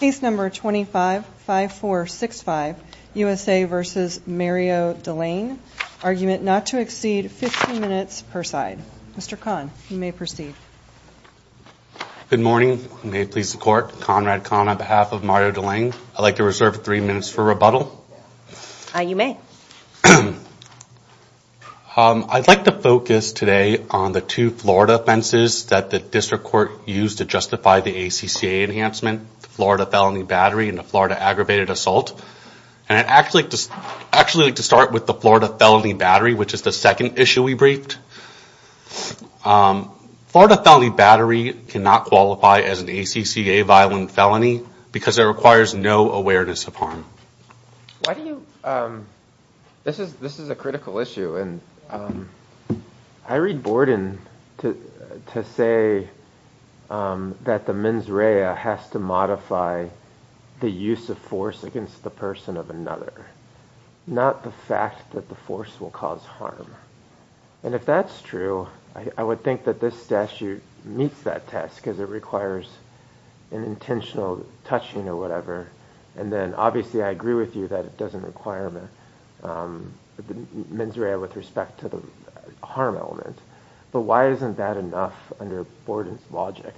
case number 25 5 4 6 5 USA vs. Mario Delaine argument not to exceed 15 minutes per side. Mr. Kahn, you may proceed. Good morning. May it please the court. Conrad Kahn on behalf of Mario Delaine. I'd like to reserve three minutes for rebuttal. You may. I'd like to focus today on the two Florida offenses that the district court used to justify the ACCA enhancement, the Florida felony battery, and the Florida aggravated assault. And I'd actually just actually like to start with the Florida felony battery, which is the second issue we briefed. Florida felony battery cannot qualify as an ACCA violent felony because it requires no awareness of harm. This is a critical issue. I read Borden to say that the mens rea has to modify the use of force against the person of another, not the fact that the force will cause harm. And if that's true, I would think that this statute meets that test because it requires an intentional touching or whatever. And then obviously I agree with you that it doesn't require the mens rea with respect to the harm element. But why isn't that enough under Borden's logic?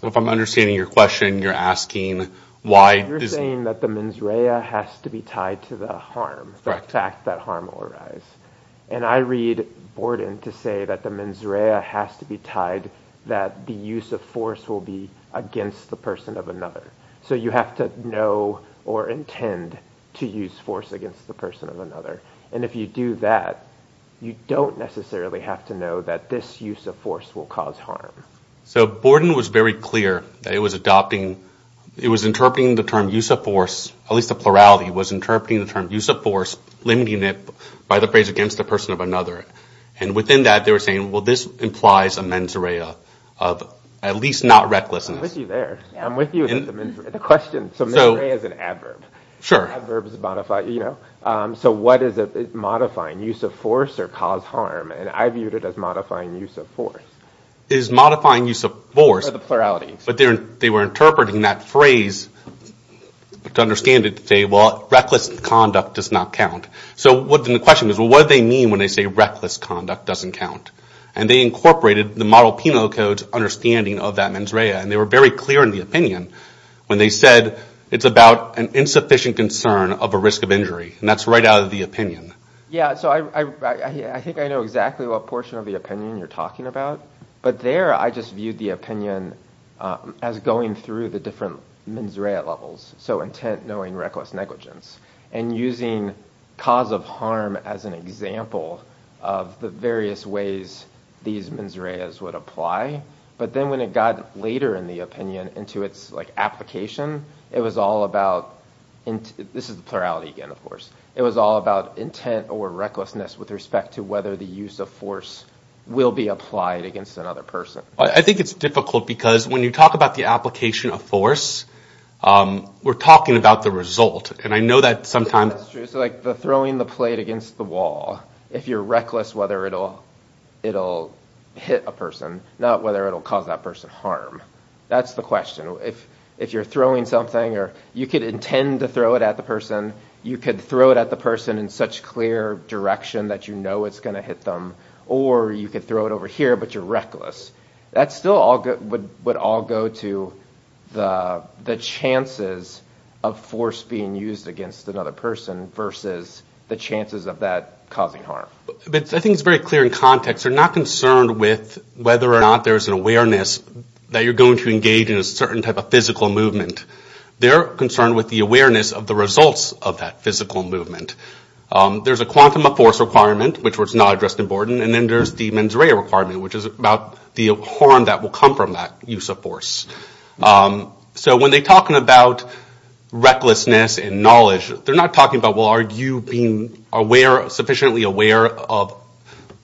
So if I'm understanding your question, you're asking why... You're saying that the mens rea has to be tied to the harm, the fact that harm will arise. And I read Borden to say that the mens rea has to be tied that the use of force will be against the person of another. So you have to know or intend to use force against the person of another. And if you do that, you don't necessarily have to know that this use of force will cause harm. So Borden was very clear that it was adopting, it was interpreting the term use of force, at least the plurality, was interpreting the term use of force, limiting it by the phrase against the person of another. And within that they were saying, well this implies a mens rea. I'm with you there. I'm with you in the question. So mens rea is an adverb. Sure. Adverbs modify, you know. So what is it, modifying use of force or cause harm? And I viewed it as modifying use of force. It is modifying use of force. For the plurality. But they were interpreting that phrase to understand it to say, well reckless conduct does not count. So what then the question is, well what do they mean when they say reckless conduct doesn't count? And they incorporated the Model Penal Code's understanding of that mens rea. And they were very clear in the opinion when they said it's about an insufficient concern of a risk of injury. And that's right out of the opinion. Yeah, so I think I know exactly what portion of the opinion you're talking about. But there I just viewed the opinion as going through the different mens rea levels. So intent, knowing, reckless negligence. And using cause of harm as an example of the various ways these mens reas would apply. But then when it got later in the opinion into its like application, it was all about, this is the plurality again of course, it was all about intent or recklessness with respect to whether the use of force will be applied against another person. I think it's difficult because when you talk about the application of force, we're talking about the result. And I know that sometimes, like the throwing the plate against the wall, if you're reckless whether it'll hit a person, not whether it'll cause that person harm. That's the question. If you're throwing something or you could intend to throw it at the person, you could throw it at the person in such clear direction that you know it's going to hit them. Or you could throw it over here but you're reckless. That still would all go to the chances of force being used against another person versus the chances of that causing harm. I think it's very clear in context. They're not concerned with whether or not there's an awareness that you're going to engage in a certain type of physical movement. They're concerned with the awareness of the results of that physical movement. There's a quantum of force requirement, which was not addressed in Borden. And then there's the mens rea requirement, which is about the harm that will come from that use of force. So when they're talking about recklessness and knowledge, they're not talking about, well, are you being aware, sufficiently aware of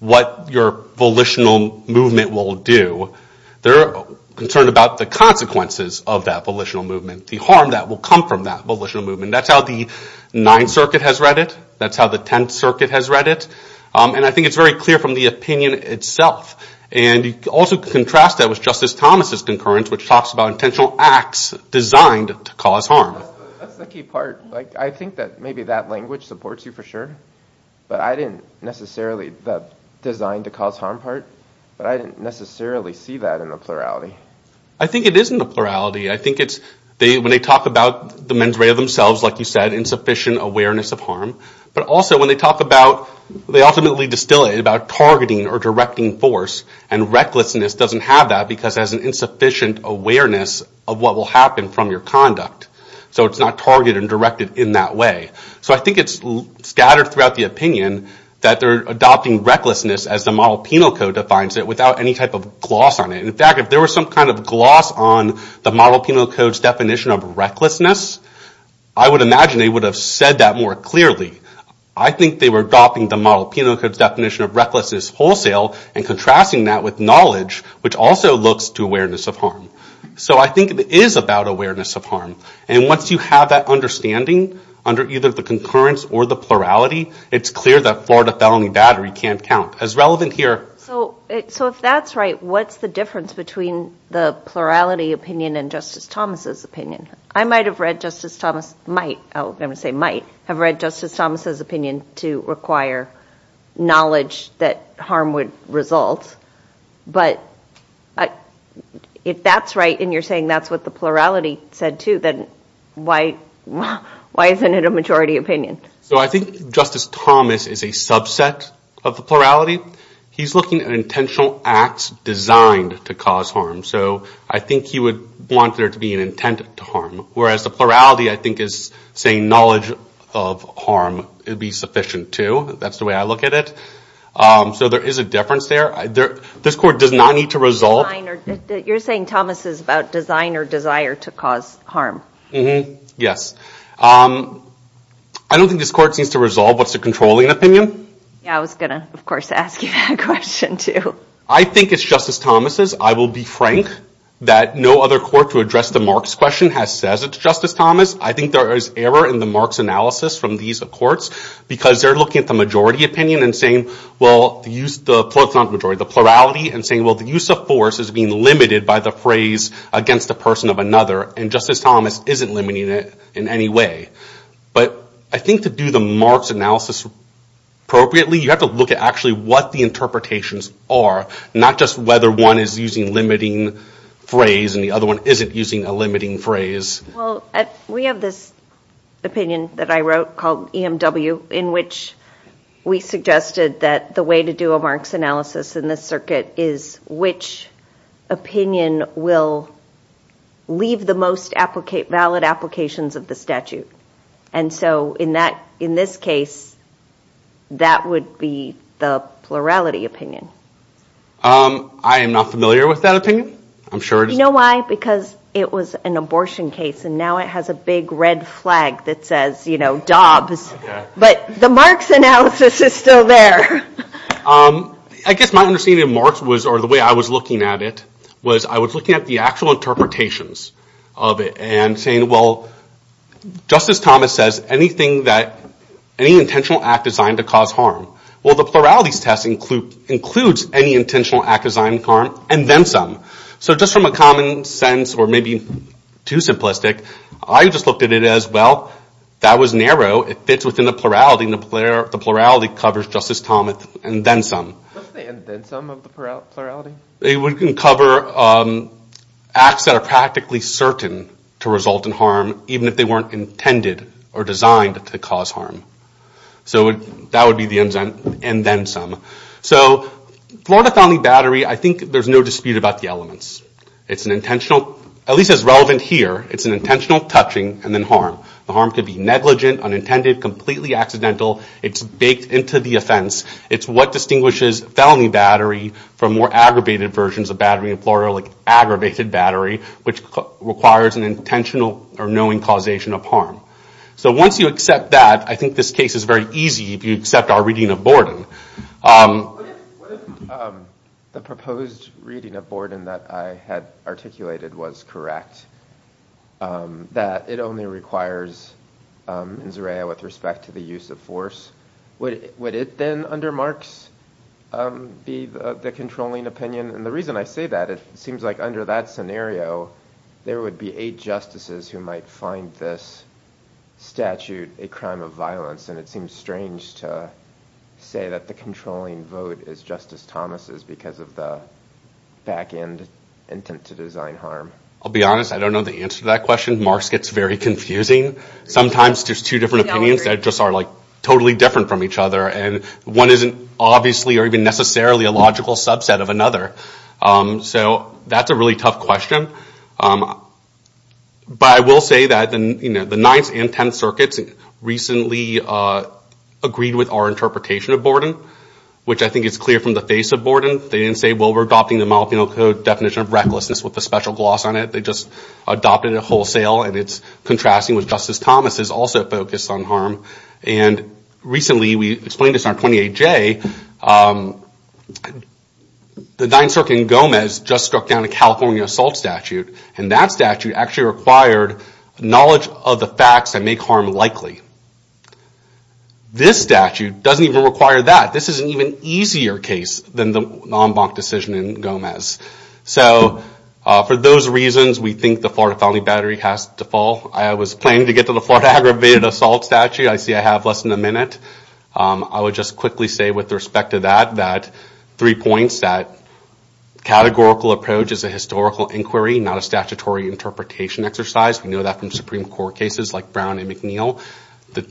what your volitional movement will do. They're concerned about the consequences of that volitional movement, the harm that will come from that volitional movement. That's how the Ninth Circuit has read it. That's how the Tenth Circuit has read it. And I think it's very clear from the opinion itself. And you can also contrast that with Justice Thomas's concurrence, which talks about intentional acts designed to cause harm. That's the key part. I think that maybe that language supports you for sure, but I didn't necessarily, that designed to cause harm part, but I didn't necessarily see that in the plurality. I think it is in the plurality. I think it's when they talk about the mens rea themselves, like you said, insufficient awareness of harm. But also when they talk about, they ultimately distill it about targeting or directing force. And recklessness doesn't have that because it has an insufficient awareness of what will happen from your conduct. So it's not targeted and directed in that way. So I think it's scattered throughout the opinion that they're adopting recklessness as the Model Penal Code defines it without any type of gloss on it. In fact, if there was some kind of gloss on the Model Penal Code's definition of recklessness, I would imagine they would have said that more clearly. I think they were adopting the Model Penal Code's definition of recklessness wholesale and contrasting that with knowledge, which also looks to awareness of harm. So I think it is about awareness of harm. And once you have that understanding under either the concurrence or the plurality, it's clear that Florida felony battery can't count. As relevant here... So if that's right, what's the difference between the plurality opinion and Justice Thomas's opinion? I might have read Justice Thomas's opinion to require knowledge that harm would result, but if that's right and you're saying that's what the plurality said too, then why isn't it a majority opinion? So I think Justice Thomas is a subset of the plurality. He's looking at intentional acts designed to cause harm. So I think he would want there to be an intent to harm, whereas the plurality I think is saying knowledge of harm would be sufficient too. That's the way I look at it. So there is a difference there. This Court does not need to resolve... You're saying Thomas is about design or desire to cause harm. Mm-hmm, yes. I don't think this Court seems to resolve what's the controlling opinion. Yeah, I was gonna of course ask you that question too. I think it's Justice Thomas's. I will be frank that no other court to address the Marx question has said it's Justice Thomas. I think there is error in the Marx analysis from these courts because they're looking at the majority opinion and saying, well, the plurality and saying, well, the use of force is being limited by the phrase against a person of another, and Justice Thomas isn't limiting it in any way. But I think to do the Marx analysis appropriately, you have to look at actually what the interpretations are, not just whether one is using limiting phrase and the other one isn't using a limiting phrase. Well, we have this opinion that I wrote called EMW in which we suggested that the way to do a Marx analysis in this circuit is which opinion will leave the most valid applications of the statute. And so in this case, that would be the plurality opinion. I am not familiar with that opinion. I'm sure it is. You know why? Because it was an abortion case and now it has a big red flag that says, you know, Dobbs. But the Marx analysis is still there. I guess my understanding of Marx was, or the way I was looking at it, was I was looking at the actual interpretations of it and saying, well, Justice Thomas says anything that, any intentional act designed to cause harm. Well, the pluralities test includes any intentional act designed harm, and then some. So just from a common sense, or maybe too simplistic, I just looked at it as, well, that was narrow. It fits within the plurality, and the plurality covers Justice Thomas and then some. It can cover acts that are practically certain to result in harm, even if they weren't intended or designed to cause harm. So that would be the and then some. So Florida felony battery, I think there's no dispute about the elements. It's an intentional, at least as relevant here, it's an intentional touching and then harm. The harm could be negligent, unintended, completely accidental. It's baked into the offense. It's what distinguishes felony battery from more aggravated versions of battery in Florida, like aggravated battery, which requires an intentional or knowing causation of harm. So once you accept that, I think this case is very easy if you accept our reading of Borden. What if the proposed reading of Borden that I had articulated was correct, that it only requires insurrea with respect to the use of force? Would it then, under Marx, be the controlling opinion? And the reason I say that, it seems like under that scenario, there would be eight justices who might find this statute a crime of violence. And it seems strange to say that the controlling vote is Justice Thomas's because of the back end intent to design harm. I'll be honest, I don't know the answer to that question. Marx gets very confusing. Sometimes there's two different opinions that just are like totally different from each other. And one isn't obviously or even necessarily a logical subset of another. So that's a really tough question. But I will say that the ninth and tenth circuits recently agreed with our interpretation of Borden, which I think is clear from the face of Borden. They didn't say, well, we're adopting the Molybdenum Code definition of recklessness with a special gloss on it. They just adopted it wholesale. And it's contrasting with Justice Thomas's also focused on harm. And recently, we explained this in our 28-J, the ninth circuit in Gomez just struck down a California assault statute. And that statute actually required knowledge of the facts that make harm likely. This statute doesn't even require that. This is an even easier case than the Nambonk decision in Gomez. So for those reasons, we think the Florida felony battery has to fall. I was planning to get to the Florida aggravated assault statute. I see I have less than a minute. I would just quickly say with respect to that, that three points, that categorical approach is a historical inquiry, not a statutory interpretation exercise. We know that from Supreme Court cases like Brown and McNeil. The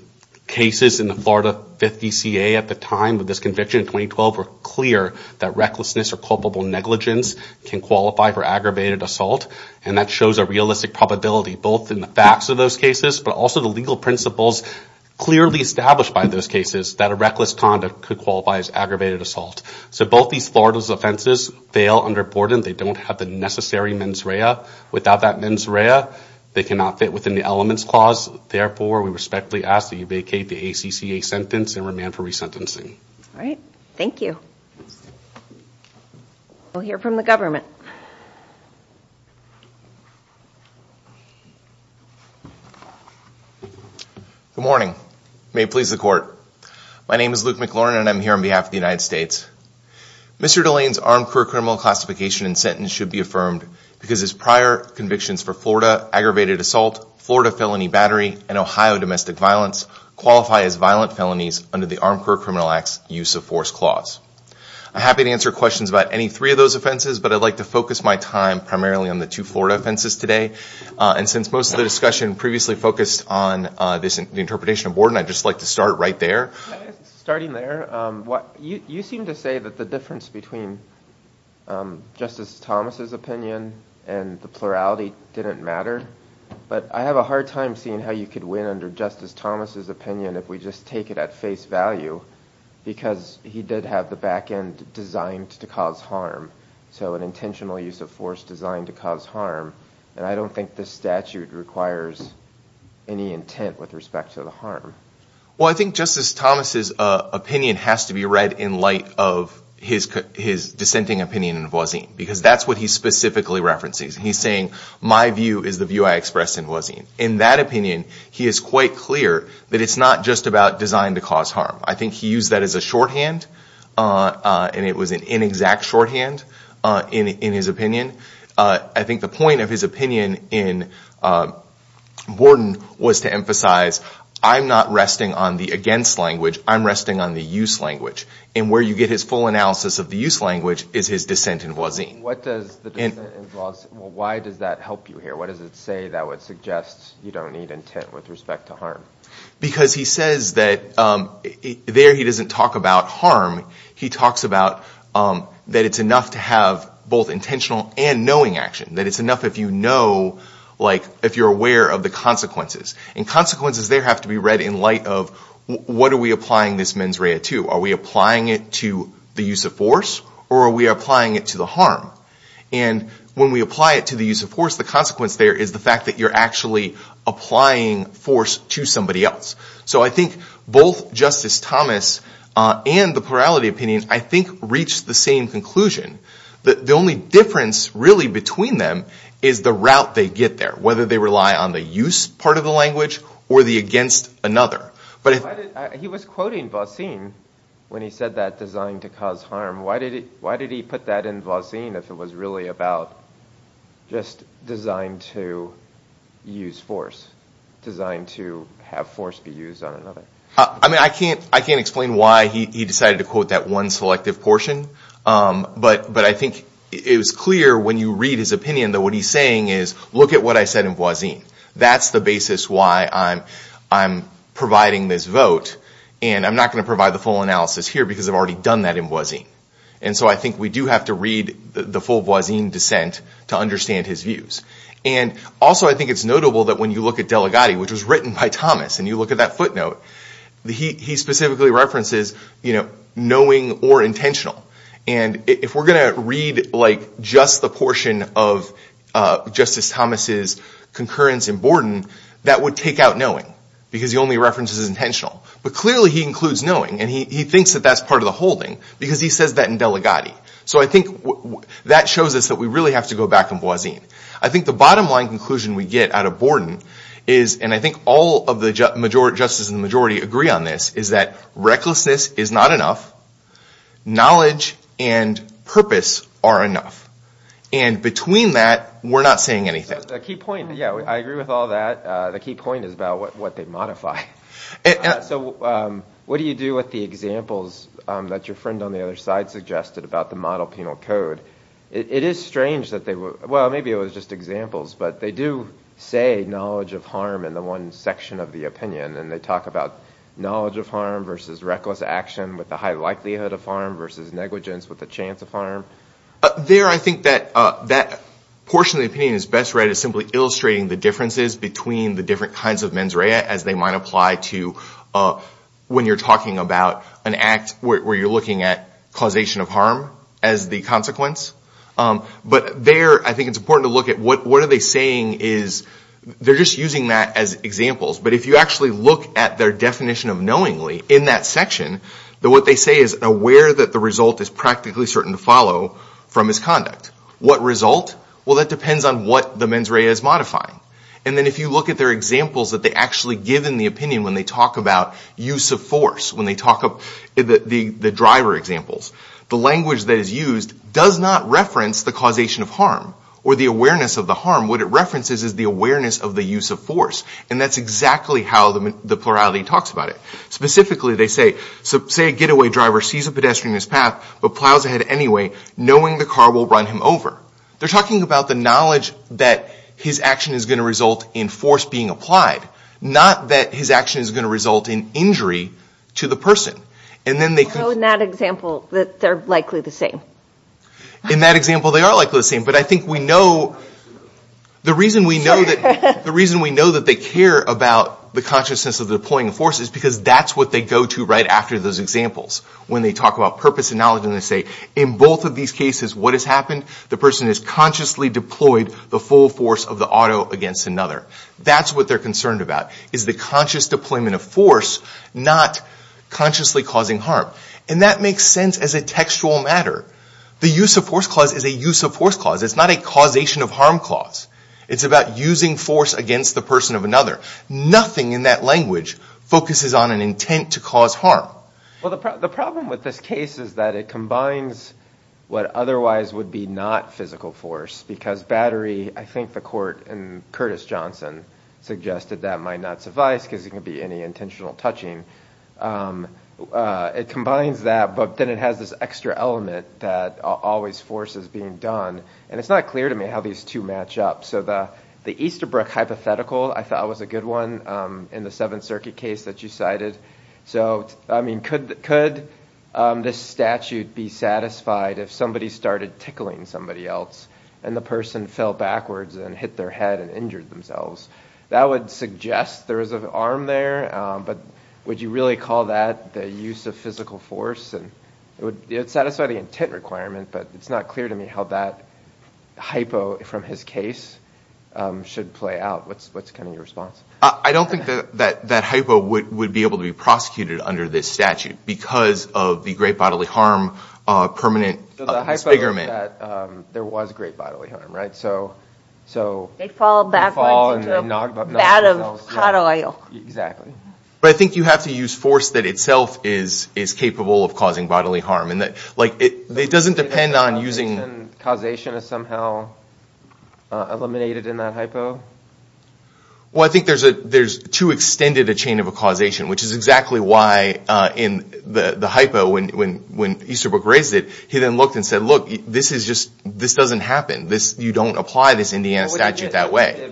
cases in the Florida 5th DCA at the time with this conviction in 2012 were clear that recklessness or culpable negligence can qualify for aggravated assault. And that shows a realistic probability, both in the facts of those cases, but also the legal principles clearly established by those cases that a reckless conduct could qualify as aggravated assault. So both these Florida's offenses fail under Borden. They don't have the necessary mens rea. Without that mens rea, they cannot fit within the elements clause. Therefore, we respectfully ask that you vacate the ACCA sentence and remand for resentencing. All right. Thank you. We'll hear from the government. Good morning. May it please the court. My name is Luke McLaurin and I'm here on behalf of the United States. Mr. Delane's armed career criminal classification and sentence should be affirmed because his prior convictions for Florida aggravated assault, Florida felony battery, and Ohio domestic violence qualify as violent felonies under the Armed Career Criminal Act's use of force clause. I'm happy to answer questions about any three of those offenses, but I'd like to focus my time primarily on the two Florida offenses today. And since most of the discussion previously focused on this interpretation of Borden, I'd just like to start right there. Starting there, you seem to say that the difference between Justice Thomas's opinion and the plurality didn't matter, but I have a hard time seeing how you could win under Justice Thomas's opinion if we just take it at face value, because he did have the back end designed to cause harm. So an intentional use of force designed to cause harm, and I don't think this statute requires any intent with respect to the harm. Well, I think Justice Thomas's opinion has to be read in light of his dissenting opinion in Voisin, because that's what he specifically references. He's saying, my view is the view I expressed in Voisin. In that opinion, he is quite clear that it's not just about designed to cause harm. I think he used that as a shorthand, and it was an inexact shorthand in his opinion. I think the point of his opinion in Borden was to emphasize, I'm not resting on the against language, I'm resting on the use language. And where you get his full analysis of the use language is his dissent in Voisin. Why does that help you here? What does it say that would suggest you don't need intent with respect to harm? Because he says that there he doesn't talk about harm, he talks about that it's enough to have both intentional and knowing action. That it's enough if you know, like if you're aware of the consequences. And consequences there have to be read in light of what are we applying this mens rea to? Are we applying it to the use of force, or are we applying it to the harm? And when we apply it to the use of force, the consequence there is the fact that you're actually applying force to somebody else. So I think both Justice Thomas and the plurality opinion, I think reached the same conclusion. That the only difference really between them is the route they get there. Whether they rely on the use part of the language or the against another. But he was quoting Voisin when he said that designed to cause harm. Why did he put that in Voisin if it was really about just designed to use force? Designed to have force be used on another? I mean I can't I can't explain why he decided to quote that one selective portion. But I think it was clear when you read his opinion that what he's saying is, look at what I said in Voisin. That's the basis why I'm providing this vote. And I'm not going to provide the full analysis here because I've already done that in Voisin. And so I think we do have to read the full Voisin dissent to understand his views. And also I think it's notable that when you look at Delegati, which was written by Thomas, and you look at that footnote, he specifically references knowing or intentional. And if we're going to read like just the portion of Justice Thomas's concurrence in Borden, that would take out knowing because the only reference is intentional. But clearly he includes knowing and he thinks that that's part of the holding because he says that in Delegati. So I think that shows us that we really have to go back in Voisin. I think the bottom line conclusion we get out of Borden is, and I think all of the justice and majority agree on this, is that recklessness is not enough. Knowledge and purpose are enough. And between that, we're not saying anything. A key point, yeah, I agree with all that. The key point is about what they modify. So what do you do with the examples that your friend on the other side suggested about the model penal code? It is strange that they were, well maybe it was just examples, but they do say knowledge of harm in the one section of the opinion and they talk about knowledge of harm versus reckless action with the high likelihood of harm versus negligence with the chance of harm. There I think that that portion of the opinion is best read as simply illustrating the differences between the different kinds of mens rea as they might apply to when you're talking about an act where you're looking at causation of harm as the consequence. But there I think it's important to look at what are they saying is, they're just using that as examples, but if you actually look at their definition of knowingly in that section, what they say is aware that the result is practically certain to follow from misconduct. What result? Well that depends on what the mens rea is modifying. And then if you look at their examples that they actually give in the opinion when they talk about use of force, when they talk about the driver examples, the language that is used does not reference the causation of harm or the awareness of the harm. What it references is the awareness of the use of force. And that's exactly how the plurality talks about it. Specifically they say, say a getaway driver sees a pedestrian in his path but plows ahead anyway, knowing the car will run him over. They're talking about the knowledge that his action is going to result in force being applied, not that his action is going to result in injury to the person. And then they can... So in that example, they're likely the same? In that example, they are likely the same. But I think we know... The reason we know that they care about the consciousness of the deploying of force is because that's what they go to right after those examples when they talk about purpose and knowledge. And they say, in both of these cases, what has happened? The person has consciously deployed the full force of the auto against another. That's what they're concerned about, is the conscious deployment of force, not consciously causing harm. And that makes sense as a factual matter. The use of force clause is a use of force clause. It's not a causation of harm clause. It's about using force against the person of another. Nothing in that language focuses on an intent to cause harm. Well, the problem with this case is that it combines what otherwise would be not physical force, because battery, I think the court in Curtis Johnson suggested that might not suffice because it could be any intentional touching. It combines that, but then it has this extra element that always forces being done. And it's not clear to me how these two match up. So the Easterbrook hypothetical I thought was a good one in the Seventh Circuit case that you cited. Could this statute be satisfied if somebody started tickling somebody else and the person fell backwards and hit their head and injured themselves? That would suggest there is an arm there, but would you really call that the use of physical force? It would satisfy the intent requirement, but it's not clear to me how that hypo from his case should play out. What's your response? I don't think that hypo would be able to be prosecuted under this statute because of the great bodily harm permanent expigurement. The hypo is that there was great bodily harm, right? They fall backwards into a vat of hot oil. Exactly. But I think you have to use force that itself is capable of causing bodily harm. It doesn't depend on using... Causation is somehow eliminated in that hypo? Well, I think there's too extended a chain of causation, which is exactly why in the hypo when Easterbrook raised it, he then looked and said, look, this doesn't happen. You don't apply this Indiana statute that way.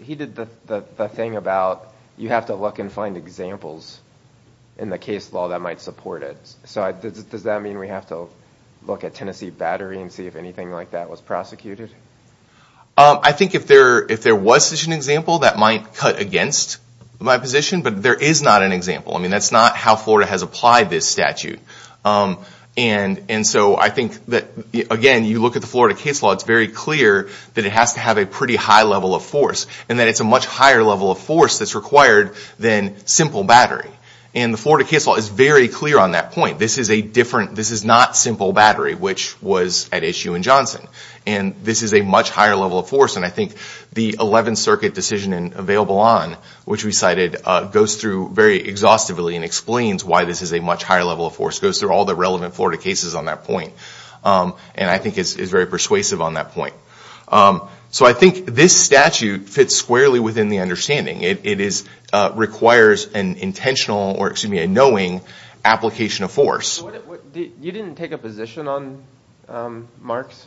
He did the thing about you have to look and find examples in the case law that might support it. Does that mean we have to look at Tennessee Battery and see if anything like that was prosecuted? I think if there was such an example, that might cut against my position, but there is not an example. That's not how Florida has applied this statute. And so I think that, again, you look at the Florida case law, it's very clear that it has to have a pretty high level of force, and that it's a much higher level of force that's required than simple battery. And the Florida case law is very clear on that point. This is not simple battery, which was at issue in Johnson. And this is a much higher level of force, and I think the 11th Circuit decision available on, which we cited, goes through very exhaustively and explains why this is a much higher level of force, goes through all the relevant Florida cases on that point. And I think it's very persuasive on that point. So I think this statute fits squarely within the understanding. It requires an intentional, or excuse me, a knowing application of force. You didn't take a position on Mark's.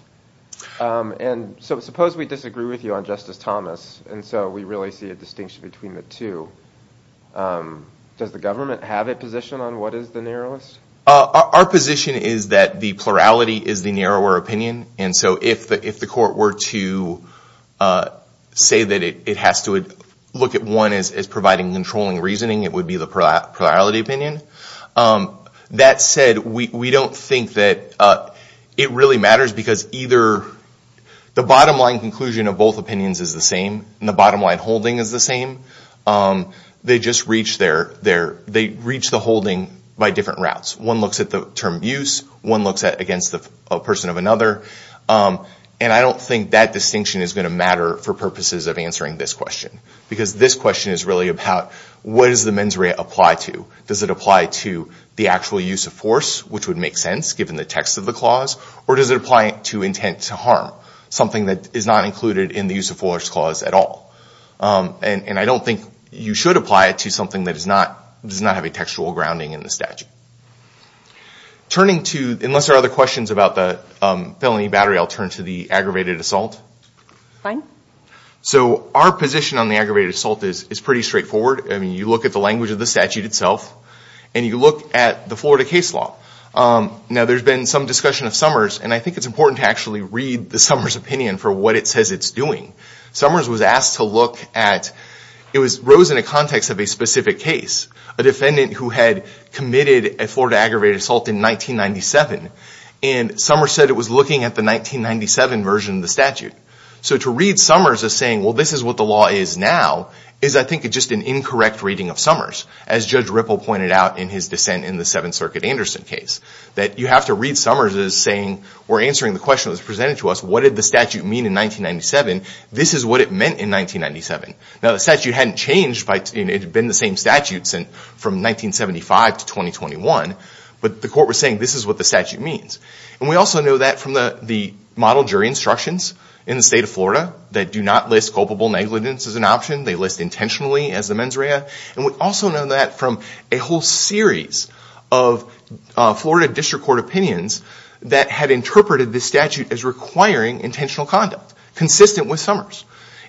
And so suppose we disagree with you on Justice Thomas, and so we really see a distinction between the two. Does the government have a position on what is the narrowest? Our position is that the plurality is the narrower opinion. And so if the court were to say that it has to look at one as providing controlling reasoning, it would be the plurality opinion. That said, we don't think that it really matters, because either the bottom line conclusion of both opinions is the same, and the bottom line holding is the same. They just reach the holding by different routes. One looks at the term abuse, one looks at against a person of another. And I don't think that distinction is going to matter for purposes of answering this question. Because this question is really about, what does the mens rea apply to? Does it apply to the actual use of force, which would make sense, given the text of the clause? Or does it apply to intent to harm, something that is not included in the use of force clause at all? And I don't think you should apply it to something that does not have a textual grounding in the statute. Unless there are other questions about the felony battery, I'll turn to the aggravated assault. So our position on the aggravated assault is pretty straightforward. You look at the language of the statute itself, and you look at the Florida case law. Now, there's been some discussion of Summers, and I think it's important to actually read the Summers opinion for what it says it's doing. Summers was asked to look at, it rose in the context of a specific case. A defendant who had committed a Florida aggravated assault in 1997. And Summers said it was looking at the 1997 version of the statute. So to read Summers as saying, well, this is what the law is now, is I think just an incorrect reading of Summers. As Judge Ripple pointed out in his dissent in the Seventh Circuit Anderson case. That you have to read Summers as saying, or answering the question that was presented to us, what did the statute mean in 1997? This is what it meant in 1997. Now, the statute hadn't changed, it had been the same statute from 1975 to 2021. But the court was saying, this is what the statute means. And we also know that from the model jury instructions in the state of Florida that do not list culpable negligence as an option. They list intentionally as the mens rea. And we also know that from a whole series of Florida district court opinions that had interpreted this statute as requiring intentional conduct, consistent with Summers.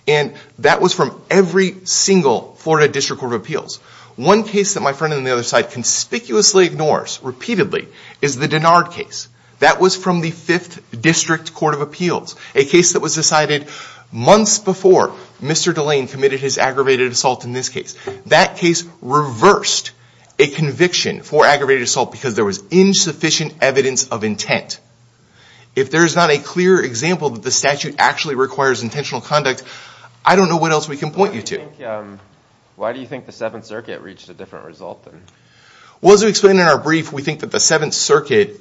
And that was from every single Florida district court of appeals. One case that my friend on the other side conspicuously ignores, repeatedly, is the Denard case. That was from the Fifth District Court of Appeals. A case that was decided months before Mr. Delane committed his aggravated assault in this case. That case reversed a conviction for aggravated assault because there was insufficient evidence of intent. If there is not a clear example that the statute actually requires intentional conduct, I don't know what else we can point you to. Why do you think the Seventh Circuit reached a different result? Well, as we explained in our brief, we think that the Seventh Circuit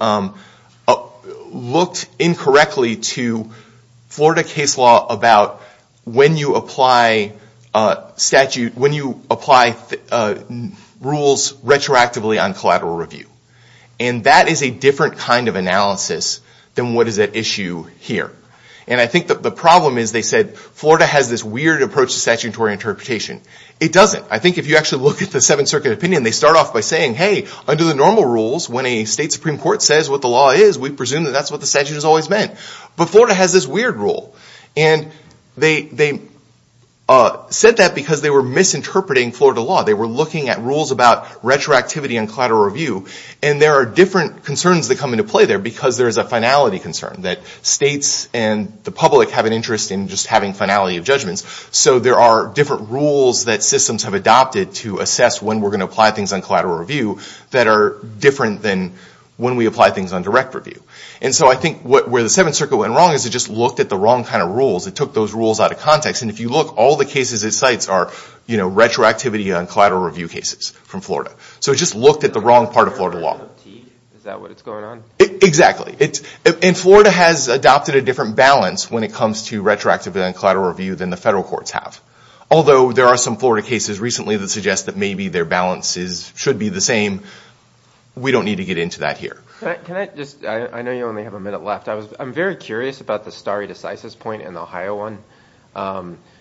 looked incorrectly to Florida case law about when you apply rules retroactively on collateral review. And that is a different kind of analysis than what is at issue here. And I think that the problem is, they said, Florida has this weird approach to statutory interpretation. It doesn't. I think if you actually look at the Seventh Circuit opinion, they start off by saying, hey, under the normal rules, when a state Supreme Court says what the law is, we presume that that's what the statute has always meant. But Florida has this weird rule. And they said that because they were misinterpreting Florida law. They were looking at rules about retroactivity on collateral review. And there are different concerns that come into play there because there is a finality concern that states and the public have an interest in just having finality of judgments. So there are different rules that systems have adopted to assess when we're going to apply things on collateral review that are different than when we apply things on direct review. And so I think where the Seventh Circuit went wrong is it just looked at the wrong kind of rules. It took those rules out of context. And if you look, all the cases it cites are retroactivity on collateral review cases from Florida. So it just looked at the wrong part of Florida law. And Florida has adopted a different balance when it comes to retroactivity on collateral review than the federal courts have. Although there are some Florida cases recently that suggest that maybe their balances should be the same. We don't need to get into that here. I'm very curious about the stare decisis point in the Ohio one.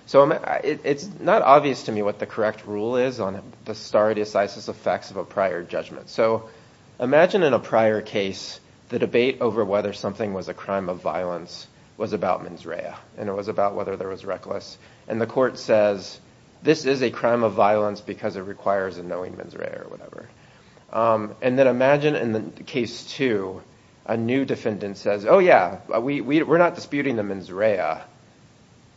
It's not obvious to me what the correct rule is on the stare decisis effects of a prior judgment. So imagine in a prior case the debate over whether something was a crime of violence was about mens rea. And it was about whether there was reckless. And the court says, this is a crime of violence because it requires a knowing mens rea or whatever. And then imagine in case two a new defendant says, oh yeah, we're not disputing the mens rea.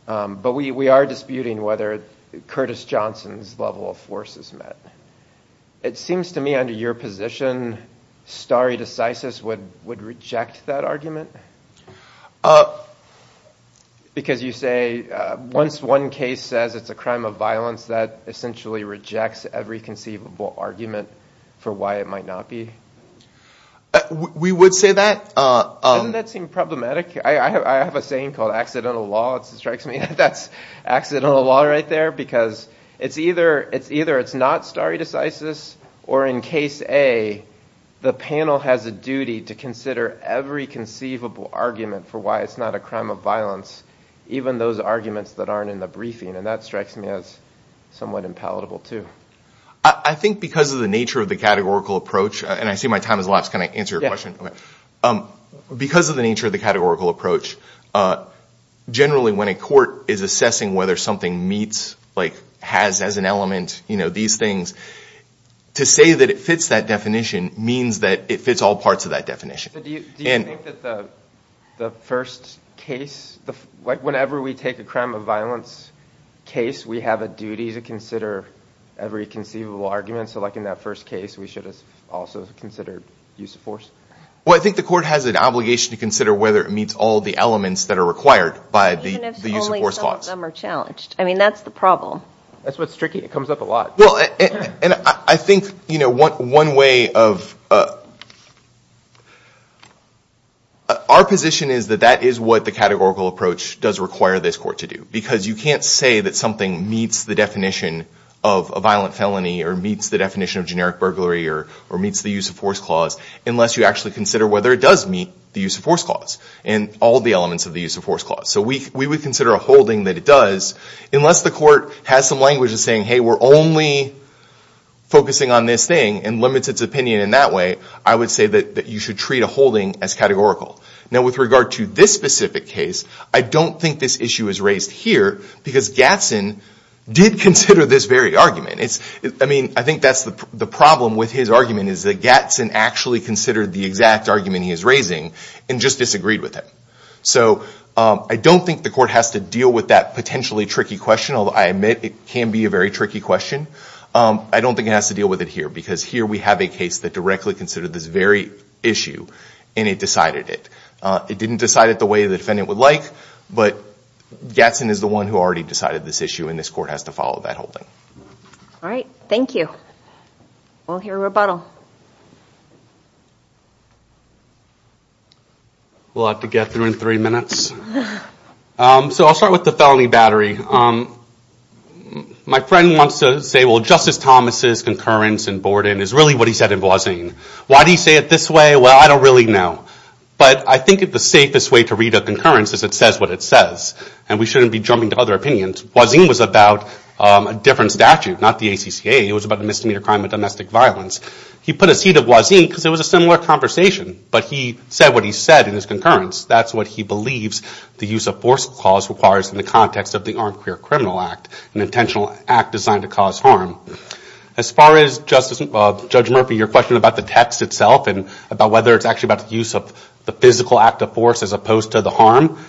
But we are disputing whether Curtis Johnson's level of force is met. It seems to me under your position stare decisis would reject that argument. Because you say once one case says it's a crime of violence, that essentially rejects every conceivable argument for why it might not be. We would say that. Doesn't that seem problematic? I have a saying called accidental law. That's accidental law right there. Because it's either it's not stare decisis or in case A the panel has a duty to consider every conceivable argument for why it's not a crime of violence. Even those arguments that aren't in the briefing. And that strikes me as somewhat impalatable too. I think because of the nature of the categorical approach, and I see my time has elapsed, can I answer your question? Because of the nature of the categorical approach, generally when a court is assessing whether something meets, has as an element, these things, to say that it fits that definition means that it fits all parts of that definition. Do you think that the first case, whenever we take a crime of violence case, we have a duty to consider every conceivable argument for why it's not a crime of violence? So like in that first case, we should have also considered use of force? Well, I think the court has an obligation to consider whether it meets all the elements that are required by the use of force clause. Even if only some of them are challenged. I mean, that's the problem. That's what's tricky. It comes up a lot. Our position is that that is what the categorical approach does require this court to do. Because you can't say that something meets the definition of a violent felony or meets the definition of generic burglary or meets the use of force clause unless you actually consider whether it does meet the use of force clause and all the elements of the use of force clause. So we would consider a holding that it does, unless the court has some language of saying, hey, we're only focusing on this thing and limits its opinion in that way, I would say that you should treat a holding as categorical. Now with regard to this specific case, I don't think this issue is raised here because Gatson did consider this very argument. I mean, I think that's the problem with his argument is that Gatson actually considered the exact argument he is raising and just disagreed with it. So I don't think the court has to deal with that potentially tricky question, although I admit it can be a very tricky question. I don't think it has to deal with it here because here we have a case that directly considered this very issue and it decided it. It didn't decide it the way the defendant would like, but Gatson is the one who already decided this issue and this court has to follow that holding. All right. Thank you. We'll hear a rebuttal. We'll have to get through in three minutes. So I'll start with the felony battery. My friend wants to say, well, Justice Thomas' concurrence in Borden is really what he said in Boisdain. Why do you say it this way? Well, I don't really know, but I think the safest way to read a concurrence is it says what it says, and we shouldn't be jumping to other opinions. Boisdain was about a different statute, not the ACCA. It was about a misdemeanor crime of domestic violence. He put a C to Boisdain because it was a similar conversation, but he said what he said in his concurrence. That's what he believes the use of force clause requires in the context of the Armed Career Criminal Act, an intentional act designed to cause harm. As far as, Judge Murphy, your question about the text itself and about whether it's actually about the use of the physical act of force as opposed to the harm,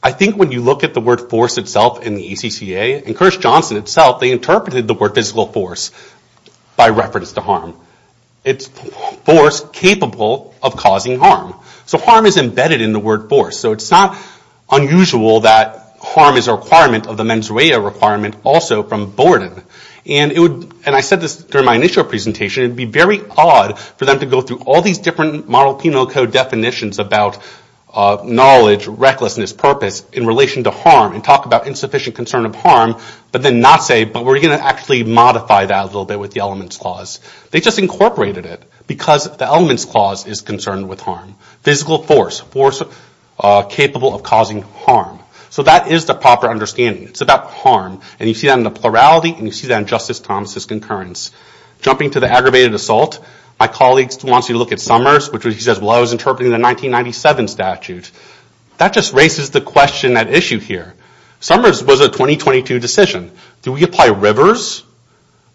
I think when you look at the word force itself in the ACCA and Curtis Johnson itself, they interpreted the word physical force by reference to harm. It's force capable of causing harm. So harm is embedded in the word force. So it's not unusual that harm is a requirement of the mens rea requirement also from Borden. And I said this during my initial presentation, it would be very odd for them to go through all these different model penal code definitions about knowledge, recklessness, purpose in relation to harm and talk about insufficient concern of harm, but then not say, but we're going to actually modify that a little bit with the elements clause. They just incorporated it because the elements clause is concerned with harm. Physical force, force capable of causing harm. So that is the proper understanding. It's about harm. And you see that in the plurality and you see that in Justice Thomas' concurrence. Jumping to the aggravated assault, my colleague wants you to look at Summers, which he says, well, I was interpreting the 1997 statute. That just raises the question, that issue here. Summers was a 2022 decision. Do we apply Rivers,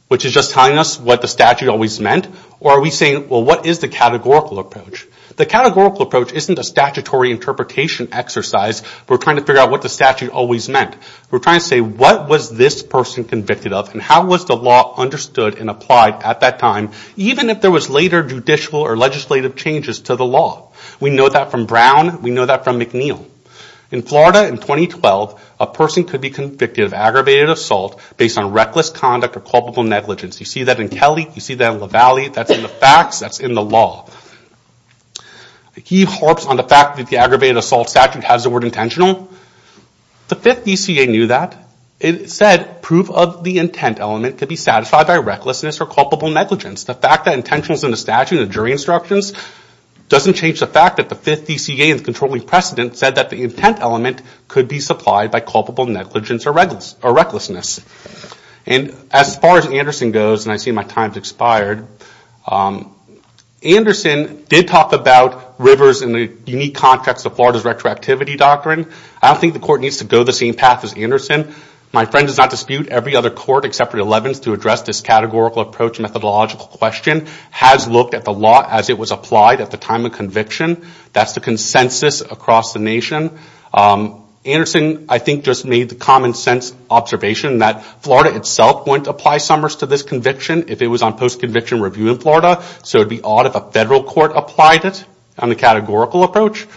which is just telling us what the statute always meant? Or are we saying, well, what is the categorical approach? The categorical approach isn't a statutory interpretation exercise. We're trying to figure out what the statute always meant. We're trying to say, what was this person convicted of and how was the law understood and applied at that time, even if there was later judicial or legislative changes to the law? We know that from Brown. We know that from McNeil. In Florida in 2012, a person could be convicted of aggravated assault based on reckless conduct or culpable negligence. You see that in Kelly. You see that in Lavallee. That's in the facts. That's in the law. He harps on the fact that the aggravated assault statute has the word intentional. The 5th DCA knew that. It said, proof of the intent element could be satisfied by recklessness or culpable negligence. The fact that intentional is in the statute and the jury instructions doesn't change the fact that the 5th DCA and the controlling precedent said that the intent element could be supplied by culpable negligence or recklessness. And as far as Anderson goes, and I see my time has expired, Anderson did talk about Rivers in the unique context of Florida's retroactivity doctrine. I don't think the court needs to go the same path as Anderson. My friend does not dispute every other court except for the 11th to address this categorical approach methodological question, has looked at the law as it was applied at the time of conviction. That's the consensus across the nation. Anderson, I think, just made the common sense observation that Florida itself wouldn't apply Summers to this conviction if it was on post-conviction review in Florida. So it would be odd if a federal court applied it on the categorical approach.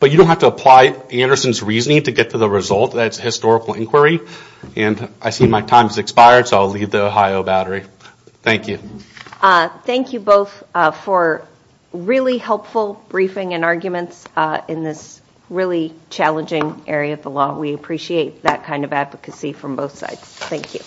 But you don't have to apply Anderson's reasoning to get to the result. That's historical inquiry. And I see my time has expired, so I'll leave the Ohio battery. Thank you. Thank you both for really helpful briefing and arguments in this really challenging area of the law. We appreciate that kind of advocacy from both sides. Thank you.